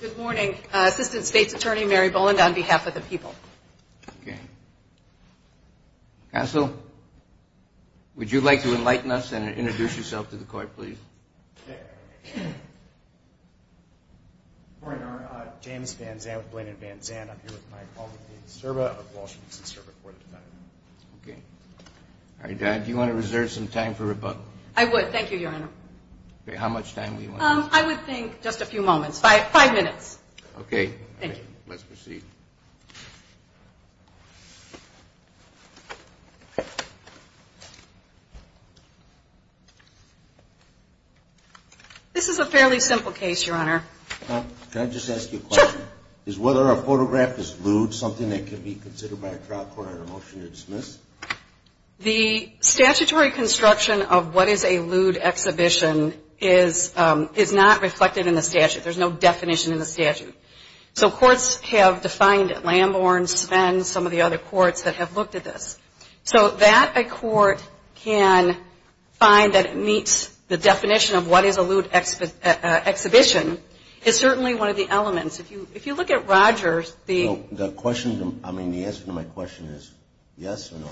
Good morning. Assistant State's Attorney Mary Boland on behalf of the people. Counsel, would you like to enlighten us and introduce yourself to the court, please? James Van Zandt with Blaine & Van Zandt. I'm here with my colleague, Dean Sturba, of the Washington District Court of Defendant. Okay. All right. Do you want to reserve some time for rebuttal? I would. Thank you, Your Honor. Okay. How much time do you want? I would think just a few moments. Five minutes. Okay. Thank you. Let's proceed. This is a fairly simple case, Your Honor. Can I just ask you a question? Sure. Is whether a photograph is lewd something that can be considered by a trial court under motion to dismiss? The statutory construction of what is a lewd exhibition is not reflected in the statute. There's no definition in the statute. So courts have defined it. Lamborn, Spen, some of the other courts that have looked at this. So that a court can find that it meets the definition of what is a lewd exhibition is certainly one of the elements. If you look at Rogers, the – No. The question – I mean, the answer to my question is yes or no.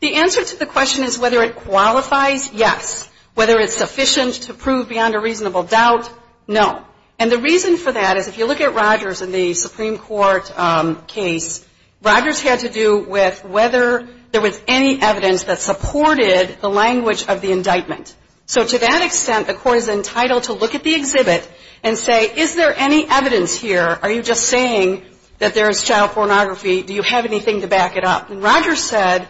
The answer to the question is whether it qualifies, yes. Whether it's sufficient to prove beyond a reasonable doubt, no. And the reason for that is if you look at Rogers in the Supreme Court case, Rogers had to do with whether there was any evidence that supported the language of the indictment. So to that extent, the court is entitled to look at the exhibit and say, is there any evidence here? Are you just saying that there is child pornography? Do you have anything to back it up? And Rogers said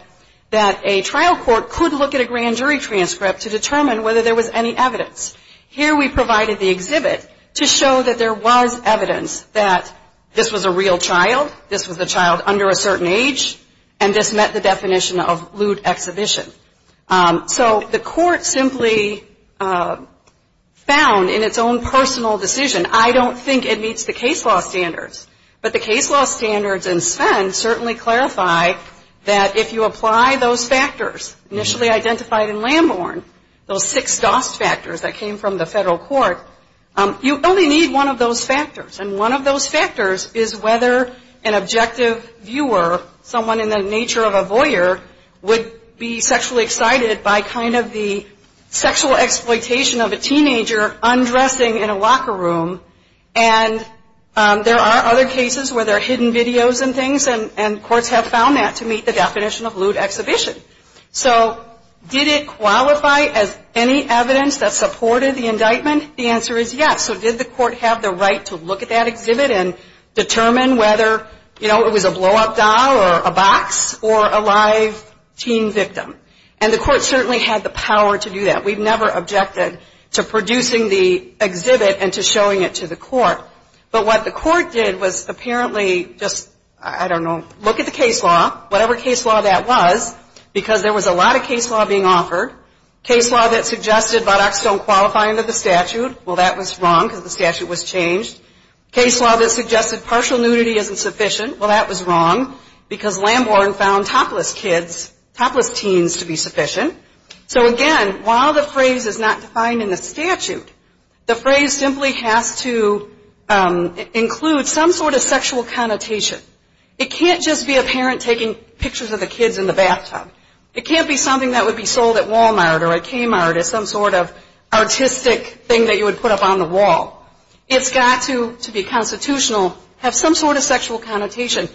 that a trial court could look at a grand jury transcript to determine whether there was any evidence. Here we provided the exhibit to show that there was evidence that this was a real child, this was a child under a certain age, and this met the definition of lewd exhibition. So the court simply found in its own personal decision, I don't think it meets the case law standards. But the case law standards in Spen certainly clarify that if you apply those factors initially identified in Lamborn, those six DOST factors that came from the federal court, you only need one of those factors. And one of those factors is whether an objective viewer, someone in the nature of a voyeur, would be sexually excited by kind of the sexual exploitation of a teenager undressing in a locker room. And there are other cases where there are hidden videos and things, and courts have found that to meet the definition of lewd exhibition. So did it qualify as any evidence that supported the indictment? The answer is yes. So did the court have the right to look at that exhibit and determine whether, you know, it was a blow-up doll or a box or a live teen victim? And the court certainly had the power to do that. We've never objected to producing the exhibit and to showing it to the court. But what the court did was apparently just, I don't know, look at the case law, whatever case law that was, because there was a lot of case law being offered, case law that suggested buttocks don't qualify under the statute. Well, that was wrong because the statute was changed. Case law that suggested partial nudity isn't sufficient. Well, that was wrong because Lamborn found topless kids, topless teens to be sufficient. So again, while the phrase is not defined in the statute, the phrase simply has to include some sort of sexual connotation. It can't just be a parent taking pictures of the kids in the bathtub. It can't be something that would be sold at Walmart or a Kmart as some sort of artistic thing that you would put up on the wall. It's got to, to be constitutional, have some sort of sexual connotation.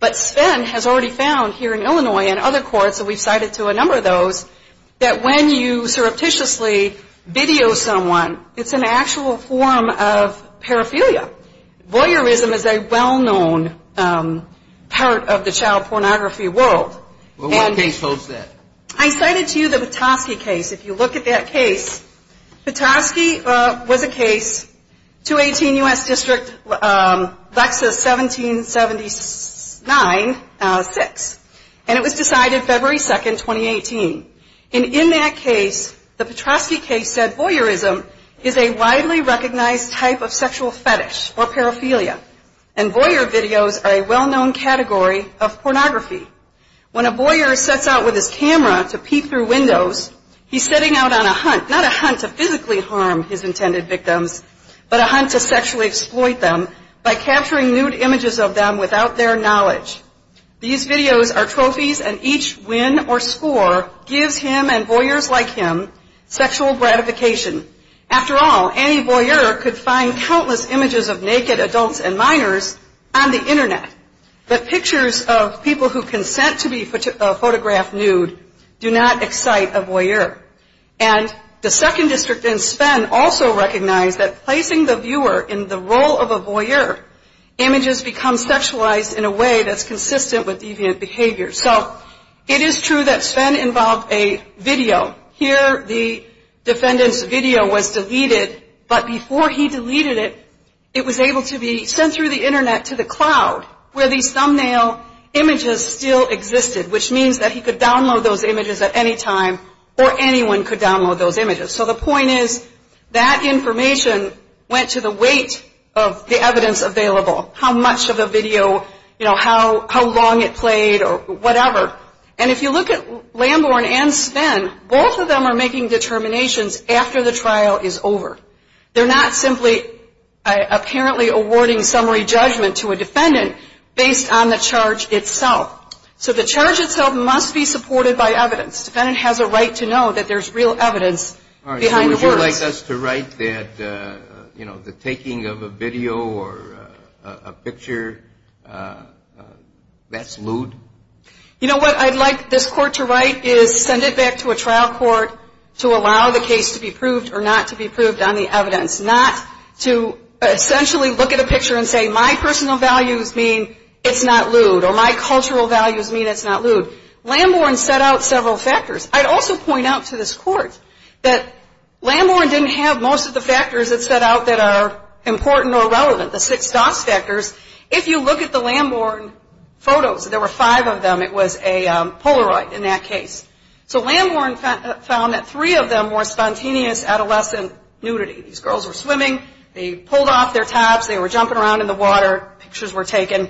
But Sven has already found here in Illinois and other courts, and we've cited to a number of those, that when you surreptitiously video someone, it's an actual form of paraphilia. Voyeurism is a well-known part of the child pornography world. Well, what case holds that? I cited to you the Petoskey case. If you look at that case, Petoskey was a case, 218 U.S. District, Lexus 1779-6, and it was decided February 2, 2018. And in that case, the Petoskey case said voyeurism is a widely recognized type of sexual fetish or paraphilia. And voyeur videos are a well-known category of pornography. When a voyeur sets out with his camera to pee through windows, he's setting out on a hunt, not a hunt to physically harm his intended victims, but a hunt to sexually exploit them by capturing nude images of them without their knowledge. These videos are trophies, and each win or score gives him and voyeurs like him sexual gratification. After all, any voyeur could find countless images of naked adults and minors on the Internet, but pictures of people who consent to be photographed nude do not excite a voyeur. And the 2nd District in Spen also recognized that placing the viewer in the role of a voyeur, images become sexualized in a way that's consistent with deviant behavior. So it is true that Spen involved a video. Here the defendant's video was deleted, but before he deleted it, it was able to be sent through the Internet to the cloud where these thumbnail images still existed, which means that he could download those images at any time or anyone could download those images. So the point is that information went to the weight of the evidence available, how much of the video, you know, how long it played or whatever. And if you look at Lamborn and Spen, both of them are making determinations after the trial is over. They're not simply apparently awarding summary judgment to a defendant based on the charge itself. So the charge itself must be supported by evidence. Defendant has a right to know that there's real evidence behind the words. All right, so would you like us to write that, you know, the taking of a video or a picture, that's lewd? You know what I'd like this court to write is send it back to a trial court to allow the case to be proved or not to be proved on the evidence, not to essentially look at a picture and say, my personal values mean it's not lewd or my cultural values mean it's not lewd. Lamborn set out several factors. I'd also point out to this court that Lamborn didn't have most of the factors that set out that are important or relevant, the six DOS factors. If you look at the Lamborn photos, there were five of them. It was a Polaroid in that case. So Lamborn found that three of them were spontaneous adolescent nudity. These girls were swimming. They pulled off their tops. They were jumping around in the water. Pictures were taken.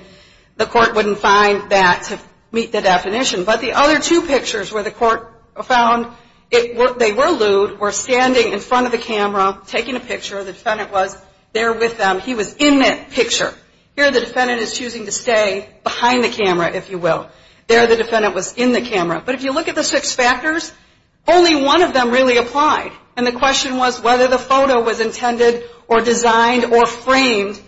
The court wouldn't find that to meet the definition. But the other two pictures where the court found they were lewd were standing in front of the camera, taking a picture. The defendant was there with them. He was in that picture. Here the defendant is choosing to stay behind the camera, if you will. There the defendant was in the camera. But if you look at the six factors, only one of them really applied, and the question was whether the photo was intended or designed or framed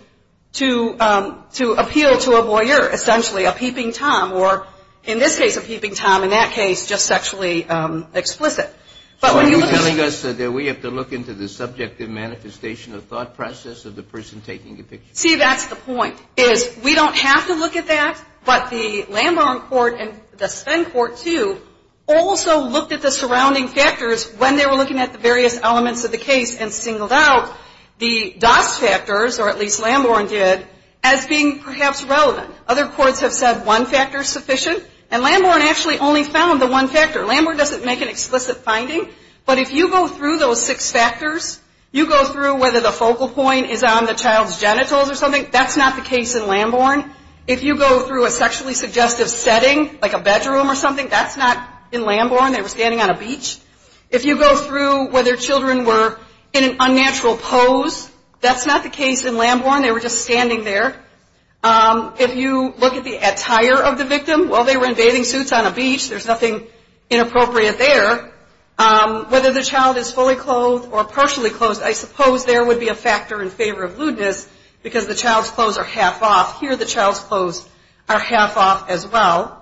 to appeal to a voyeur, essentially, a peeping Tom, or in this case a peeping Tom, in that case just sexually explicit. So are you telling us that we have to look into the subjective manifestation of thought process of the person taking the picture? See, that's the point, is we don't have to look at that. But the Lamborn court and the Sven court, too, also looked at the surrounding factors when they were looking at the various elements of the case and singled out the DAS factors, or at least Lamborn did, as being perhaps relevant. Other courts have said one factor is sufficient, and Lamborn actually only found the one factor. Lamborn doesn't make an explicit finding, but if you go through those six factors, you go through whether the focal point is on the child's genitals or something, that's not the case in Lamborn. If you go through a sexually suggestive setting, like a bedroom or something, that's not in Lamborn. They were standing on a beach. If you go through whether children were in an unnatural pose, that's not the case in Lamborn. They were just standing there. If you look at the attire of the victim, while they were in bathing suits on a beach, there's nothing inappropriate there. Whether the child is fully clothed or partially clothed, I suppose there would be a factor in favor of lewdness because the child's clothes are half off. Here the child's clothes are half off as well.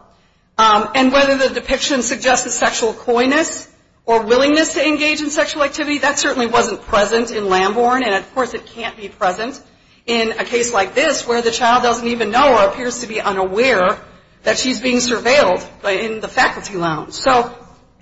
And whether the depiction suggests a sexual coyness or willingness to engage in sexual activity, that certainly wasn't present in Lamborn, and of course it can't be present in a case like this where the child doesn't even know or appears to be unaware that she's being surveilled in the faculty lounge.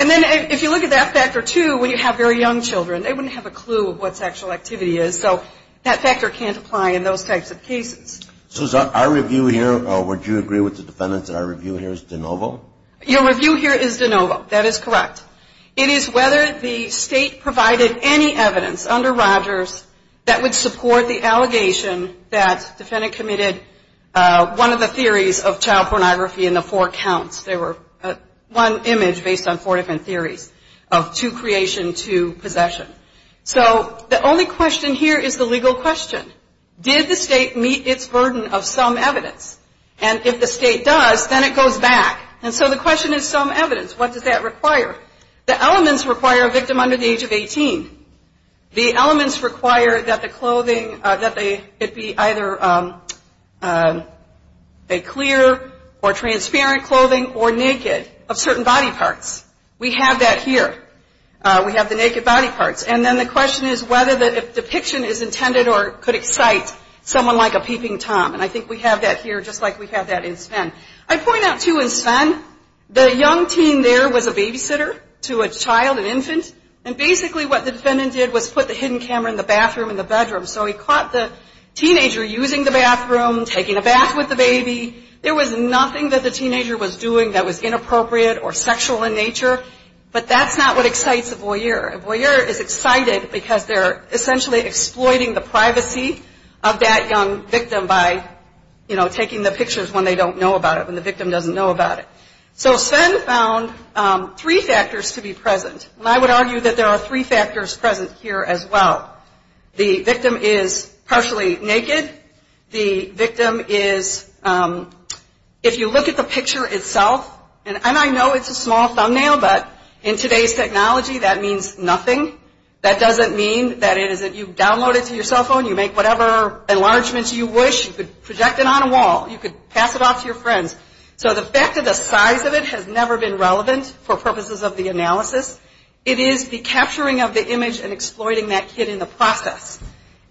And then if you look at that factor, too, when you have very young children, they wouldn't have a clue of what sexual activity is. So that factor can't apply in those types of cases. So our review here, would you agree with the defendant that our review here is de novo? Your review here is de novo. That is correct. It is whether the state provided any evidence under Rogers that would support the allegation that the defendant committed one of the theories of child pornography in the four counts. There were one image based on four different theories of two creation, two possession. So the only question here is the legal question. Did the state meet its burden of some evidence? And if the state does, then it goes back. And so the question is some evidence. What does that require? The elements require a victim under the age of 18. The elements require that the clothing, that it be either a clear or transparent clothing or naked of certain body parts. We have that here. We have the naked body parts. And then the question is whether the depiction is intended or could excite someone like a peeping Tom. And I think we have that here just like we have that in Sven. I point out, too, in Sven, the young teen there was a babysitter to a child, an infant. And basically what the defendant did was put the hidden camera in the bathroom in the bedroom. So he caught the teenager using the bathroom, taking a bath with the baby. There was nothing that the teenager was doing that was inappropriate or sexual in nature. But that's not what excites a voyeur. A voyeur is excited because they're essentially exploiting the privacy of that young victim by, you know, taking the pictures when they don't know about it, when the victim doesn't know about it. So Sven found three factors to be present. And I would argue that there are three factors present here as well. The victim is partially naked. The victim is, if you look at the picture itself, and I know it's a small thumbnail, but in today's technology that means nothing. That doesn't mean that you download it to your cell phone, you make whatever enlargements you wish, you could project it on a wall, you could pass it off to your friends. So the fact that the size of it has never been relevant for purposes of the analysis, it is the capturing of the image and exploiting that kid in the process.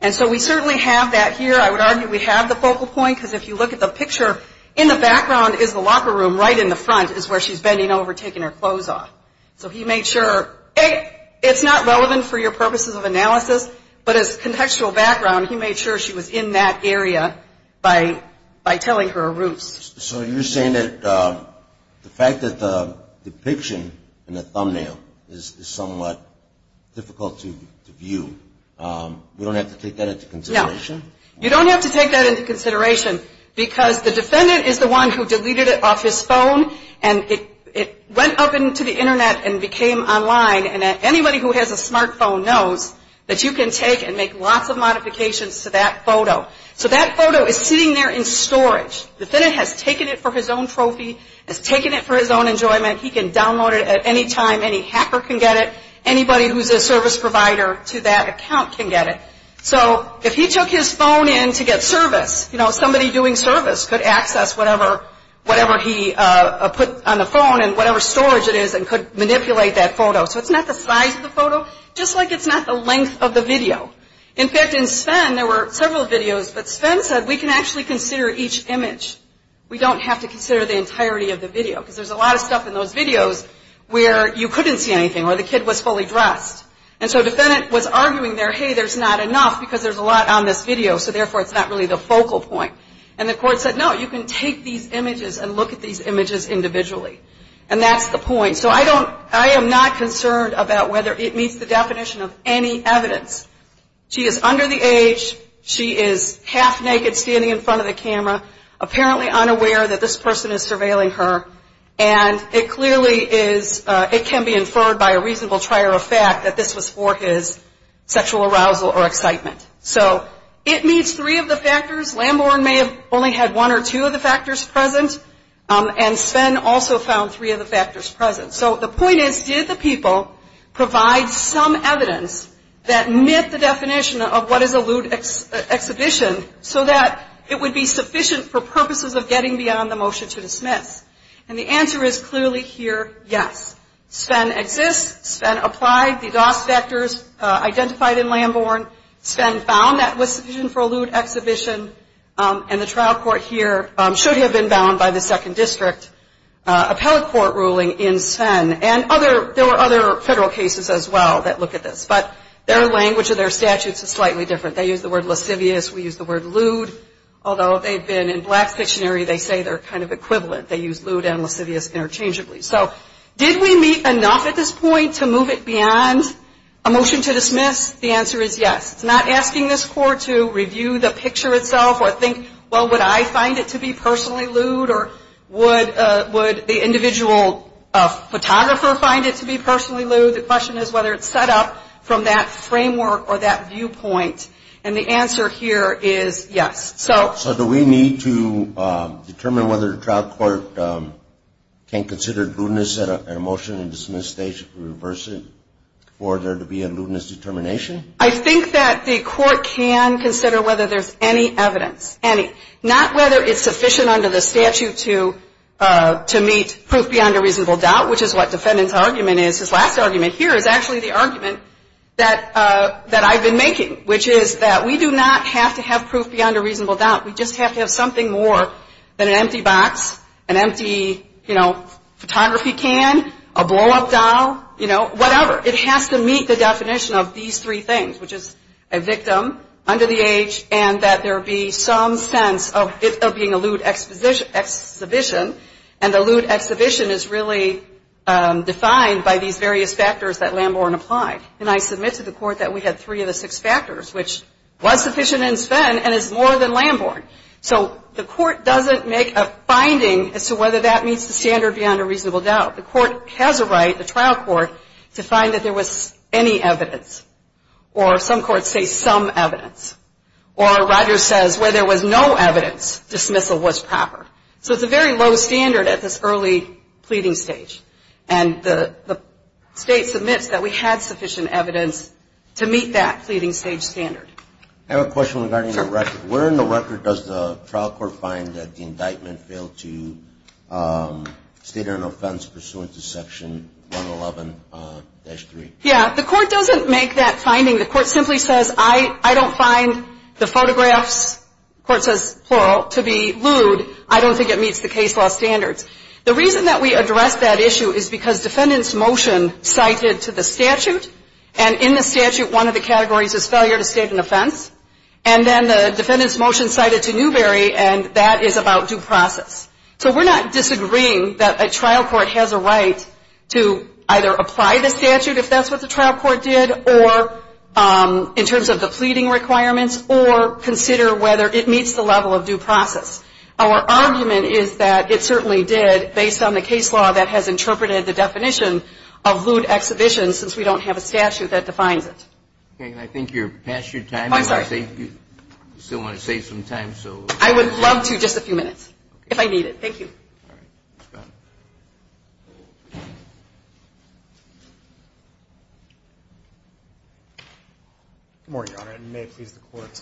And so we certainly have that here. I would argue we have the focal point because if you look at the picture, in the background is the locker room, right in the front is where she's bending over taking her clothes off. So he made sure it's not relevant for your purposes of analysis, but as contextual background, he made sure she was in that area by telling her roots. So you're saying that the fact that the depiction in the thumbnail is somewhat difficult to view, we don't have to take that into consideration? You don't have to take that into consideration because the defendant is the one who deleted it off his phone and it went up into the Internet and became online. And anybody who has a smart phone knows that you can take and make lots of modifications to that photo. So that photo is sitting there in storage. The defendant has taken it for his own trophy, has taken it for his own enjoyment. He can download it at any time. Any hacker can get it. Anybody who's a service provider to that account can get it. So if he took his phone in to get service, you know, somebody doing service could access whatever he put on the phone and whatever storage it is and could manipulate that photo. So it's not the size of the photo, just like it's not the length of the video. In fact, in Sven, there were several videos, but Sven said we can actually consider each image. We don't have to consider the entirety of the video because there's a lot of stuff in those videos where you couldn't see anything or the kid was fully dressed. And so a defendant was arguing there, hey, there's not enough because there's a lot on this video, so therefore it's not really the focal point. And the court said, no, you can take these images and look at these images individually. And that's the point. So I am not concerned about whether it meets the definition of any evidence. She is under the age. She is half naked standing in front of the camera, apparently unaware that this person is surveilling her. And it clearly is, it can be inferred by a reasonable trier of fact that this was for his sexual arousal or excitement. So it meets three of the factors. Lamborn may have only had one or two of the factors present. And Sven also found three of the factors present. So the point is, did the people provide some evidence that met the definition of what is a lewd exhibition so that it would be sufficient for purposes of getting beyond the motion to dismiss? And the answer is clearly here, yes. Sven exists. Sven applied. The DOS factors identified in Lamborn. Sven found that was sufficient for a lewd exhibition. And the trial court here should have been bound by the second district appellate court ruling in Sven. And there were other federal cases as well that look at this. But their language of their statutes is slightly different. They use the word lascivious. We use the word lewd. Although they've been in black dictionary, they say they're kind of equivalent. They use lewd and lascivious interchangeably. So did we meet enough at this point to move it beyond a motion to dismiss? The answer is yes. It's not asking this court to review the picture itself or think, well, would I find it to be personally lewd? Or would the individual photographer find it to be personally lewd? The question is whether it's set up from that framework or that viewpoint. And the answer here is yes. So do we need to determine whether the trial court can consider lewdness at a motion to dismiss and reverse it for there to be a lewdness determination? I think that the court can consider whether there's any evidence, any. Not whether it's sufficient under the statute to meet proof beyond a reasonable doubt, which is what defendant's argument is, his last argument here is actually the argument that I've been making, which is that we do not have to have proof beyond a reasonable doubt. We just have to have something more than an empty box, an empty, you know, photography can, a blow-up doll, you know, whatever. It has to meet the definition of these three things, which is a victim under the age and that there be some sense of it being a lewd exhibition. And a lewd exhibition is really defined by these various factors that Lamborn applied. And I submit to the court that we had three of the six factors, which was sufficient in Sven and is more than Lamborn. So the court doesn't make a finding as to whether that meets the standard beyond a reasonable doubt. The court has a right, the trial court, to find that there was any evidence or some courts say some evidence. Or Roger says where there was no evidence, dismissal was proper. So it's a very low standard at this early pleading stage. And the state submits that we had sufficient evidence to meet that pleading stage standard. I have a question regarding the record. Where in the record does the trial court find that the indictment failed to state an offense pursuant to Section 111-3? Yeah, the court doesn't make that finding. The court simply says I don't find the photographs, the court says plural, to be lewd. I don't think it meets the case law standards. The reason that we address that issue is because defendant's motion cited to the statute, and in the statute one of the categories is failure to state an offense. And then the defendant's motion cited to Newbery, and that is about due process. So we're not disagreeing that a trial court has a right to either apply the statute, if that's what the trial court did, or in terms of the pleading requirements, or consider whether it meets the level of due process. Our argument is that it certainly did based on the case law that has interpreted the definition of lewd exhibition since we don't have a statute that defines it. Okay. And I think you're past your time. Oh, I'm sorry. You still want to save some time, so. I would love to, just a few minutes, if I need it. Thank you. All right. Go ahead. Good morning, Your Honor, and may it please the Court.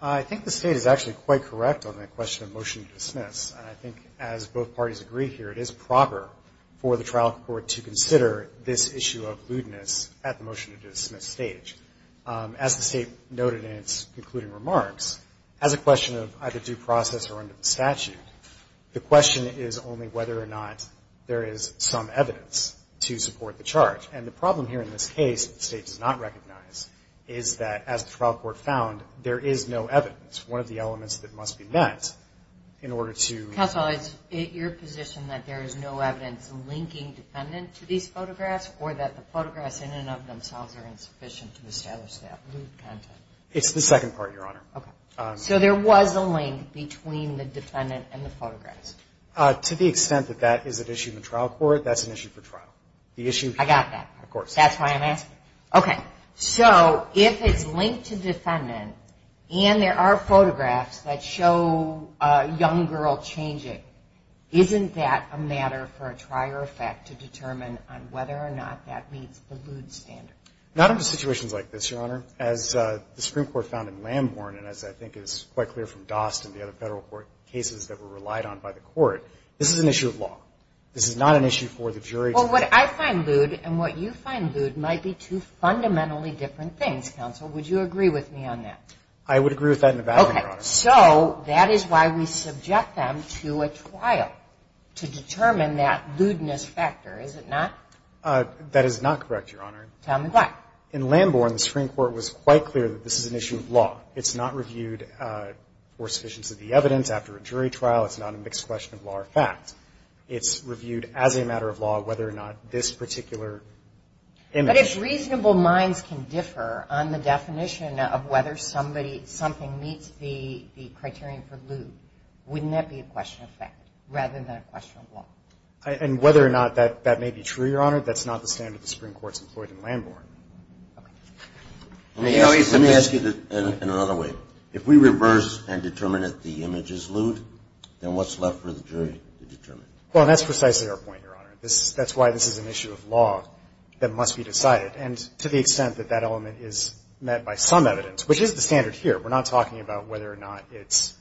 I think the State is actually quite correct on that question of motion to dismiss, and I think as both parties agree here, it is proper for the trial court to consider this issue of lewdness at the motion to dismiss stage. As the State noted in its concluding remarks, as a question of either due process or under the statute, the question is only whether or not there is some evidence to support the charge. And the problem here in this case that the State does not recognize is that, as the trial court found, there is no evidence, one of the elements that must be met in order to... Counsel, is it your position that there is no evidence linking defendant to these photographs or that the photographs in and of themselves are insufficient to establish that lewd content? It's the second part, Your Honor. Okay. So there was a link between the defendant and the photographs? To the extent that that is an issue in the trial court, that's an issue for trial. I got that. Of course. That's why I'm asking. Okay. So if it's linked to defendant and there are photographs that show a young girl changing, isn't that a matter for a trier effect to determine on whether or not that meets the lewd standard? Not under situations like this, Your Honor. As the Supreme Court found in Lambourne and as I think is quite clear from Dost and the other Federal court cases that were relied on by the Court, this is an issue of law. This is not an issue for the jury to... Well, what I find lewd and what you find lewd might be two fundamentally different things, Counsel. Would you agree with me on that? I would agree with that in a battle, Your Honor. Okay. So that is why we subject them to a trial to determine that lewdness factor, is it not? That is not correct, Your Honor. Tell me why. In Lambourne, the Supreme Court was quite clear that this is an issue of law. It's not reviewed for sufficiency of the evidence after a jury trial. It's not a mixed question of law or fact. It's reviewed as a matter of law whether or not this particular image...... is the criterion for lewd. Wouldn't that be a question of fact rather than a question of law? And whether or not that may be true, Your Honor, that's not the standard the Supreme Court's employed in Lambourne. Let me ask you this in another way. If we reverse and determine that the image is lewd, then what's left for the jury to determine? Well, that's precisely our point, Your Honor. That's why this is an issue of law that must be decided. And to the extent that that element is met by some evidence, which is the standard here, we're not talking about whether or not it's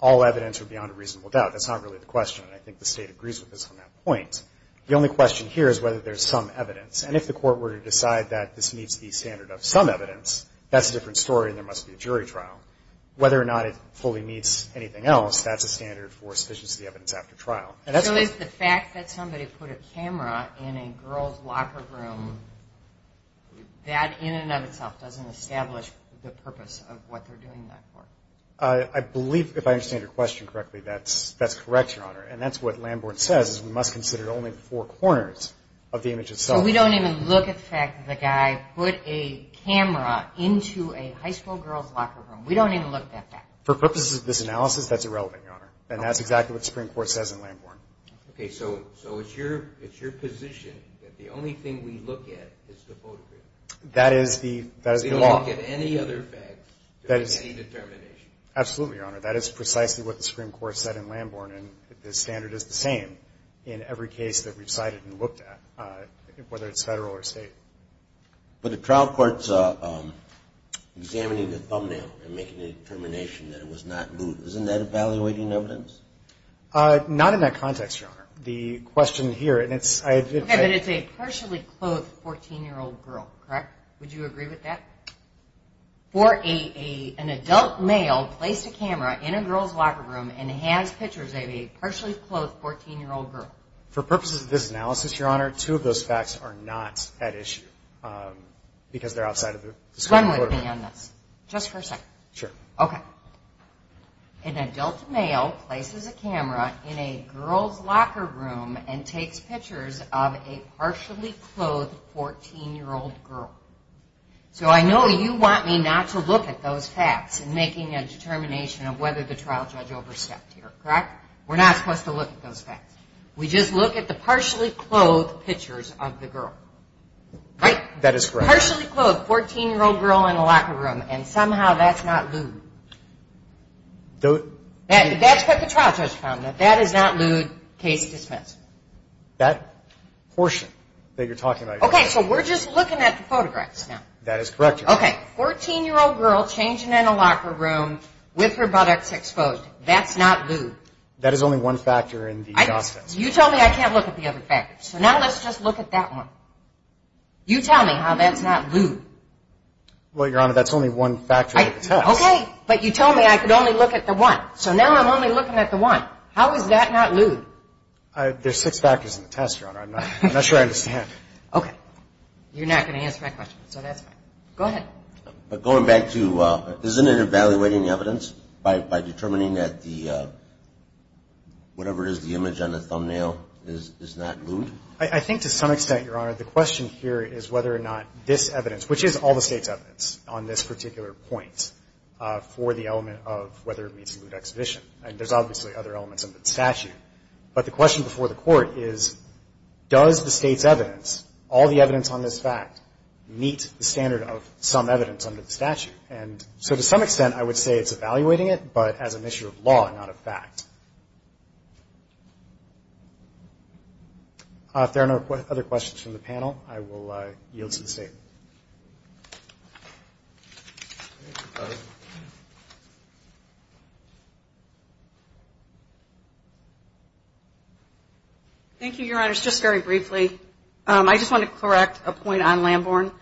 all evidence or beyond a reasonable doubt. That's not really the question, and I think the State agrees with us on that point. The only question here is whether there's some evidence. And if the court were to decide that this meets the standard of some evidence, that's a different story and there must be a jury trial. Whether or not it fully meets anything else, that's a standard for sufficiency of the evidence after trial. So is the fact that somebody put a camera in a girl's locker room, that in and of itself doesn't establish the purpose of what they're doing that for? I believe, if I understand your question correctly, that's correct, Your Honor. And that's what Lambourne says is we must consider only four corners of the image itself. So we don't even look at the fact that the guy put a camera into a high school girl's locker room. We don't even look at that. For purposes of this analysis, that's irrelevant, Your Honor. And that's exactly what the Supreme Court says in Lambourne. Okay. So it's your position that the only thing we look at is the photograph? That is the law. We don't look at any other facts than any determination? Absolutely, Your Honor. That is precisely what the Supreme Court said in Lambourne. And the standard is the same in every case that we've cited and looked at, whether it's federal or state. But the trial court's examining the thumbnail and making a determination that it was not moot. Isn't that evaluating evidence? Not in that context, Your Honor. Okay, but it's a partially clothed 14-year-old girl, correct? Would you agree with that? For an adult male placed a camera in a girl's locker room and has pictures of a partially clothed 14-year-old girl. For purposes of this analysis, Your Honor, two of those facts are not at issue because they're outside of the Supreme Court. One would be on this. Just for a second. Sure. Okay. An adult male places a camera in a girl's locker room and takes pictures of a partially clothed 14-year-old girl. So I know you want me not to look at those facts in making a determination of whether the trial judge overstepped here, correct? We're not supposed to look at those facts. We just look at the partially clothed pictures of the girl, right? That is correct. A partially clothed 14-year-old girl in a locker room and somehow that's not lewd. That's what the trial judge found, that that is not lewd. Case dismissed. That portion that you're talking about. Okay, so we're just looking at the photographs now. That is correct, Your Honor. Okay, 14-year-old girl changing in a locker room with her buttocks exposed. That's not lewd. That is only one factor in the process. You told me I can't look at the other factors. So now let's just look at that one. You tell me how that's not lewd. Well, Your Honor, that's only one factor of the test. Okay, but you told me I could only look at the one. So now I'm only looking at the one. How is that not lewd? There's six factors in the test, Your Honor. I'm not sure I understand. Okay. You're not going to answer my question, so that's fine. Go ahead. Going back to, isn't it evaluating the evidence by determining that the, whatever it is, the image on the thumbnail is not lewd? I think to some extent, Your Honor, the question here is whether or not this evidence, which is all the State's evidence on this particular point, for the element of whether it meets lewd exhibition. And there's obviously other elements under the statute. But the question before the Court is, does the State's evidence, all the evidence on this fact, meet the standard of some evidence under the statute? And so to some extent, I would say it's evaluating it, but as an issue of law, not a fact. If there are no other questions from the panel, I will yield to the State. Thank you, Your Honors. Just very briefly, I just want to correct a point on Lamborn.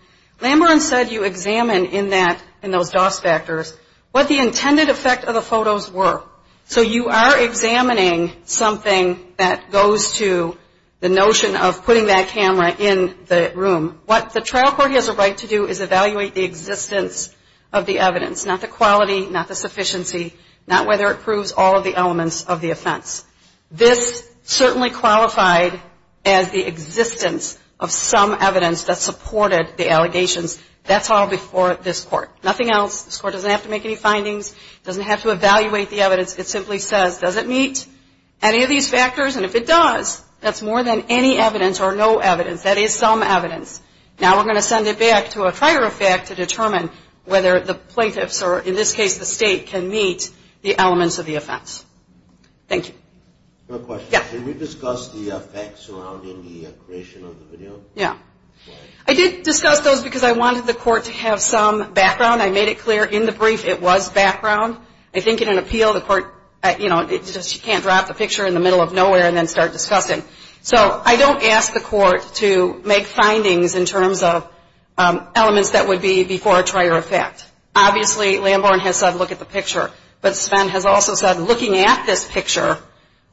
Lamborn said you examine in that, in those DOS factors, what the intended effect of the photos were. So you are examining something that goes to the notion of putting that camera in the room. What the trial court has a right to do is evaluate the existence of the evidence, not the quality, not the sufficiency, not whether it proves all of the elements of the offense. This certainly qualified as the existence of some evidence that supported the allegations. That's all before this Court. Nothing else. This Court doesn't have to make any findings, doesn't have to evaluate the evidence. It simply says, does it meet any of these factors? And if it does, that's more than any evidence or no evidence. That is some evidence. Now we're going to send it back to a prior effect to determine whether the plaintiffs, or in this case the State, can meet the elements of the offense. Thank you. I have a question. Yeah. Can we discuss the facts surrounding the creation of the video? Yeah. I did discuss those because I wanted the Court to have some background. I made it clear in the brief it was background. I think in an appeal the Court, you know, it's just you can't drop the picture in the middle of nowhere and then start discussing. So I don't ask the Court to make findings in terms of elements that would be before a prior effect. Obviously, Lamborn has said look at the picture. But Sven has also said looking at this picture,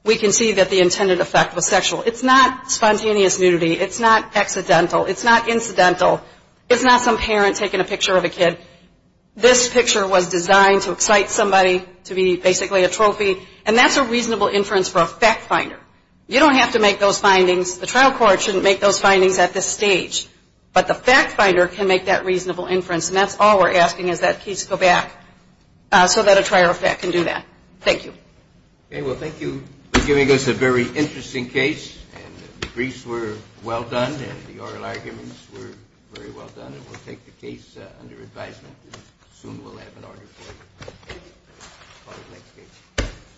we can see that the intended effect was sexual. It's not spontaneous nudity. It's not accidental. It's not incidental. It's not some parent taking a picture of a kid. This picture was designed to excite somebody, to be basically a trophy. And that's a reasonable inference for a fact finder. You don't have to make those findings. The trial court shouldn't make those findings at this stage. But the fact finder can make that reasonable inference. And that's all we're asking is that case go back so that a prior effect can do that. Thank you. Okay. Well, thank you for giving us a very interesting case. And the briefs were well done and the oral arguments were very well done. And we'll take the case under advisement. And soon we'll have an order for it. Thank you. Call the next case.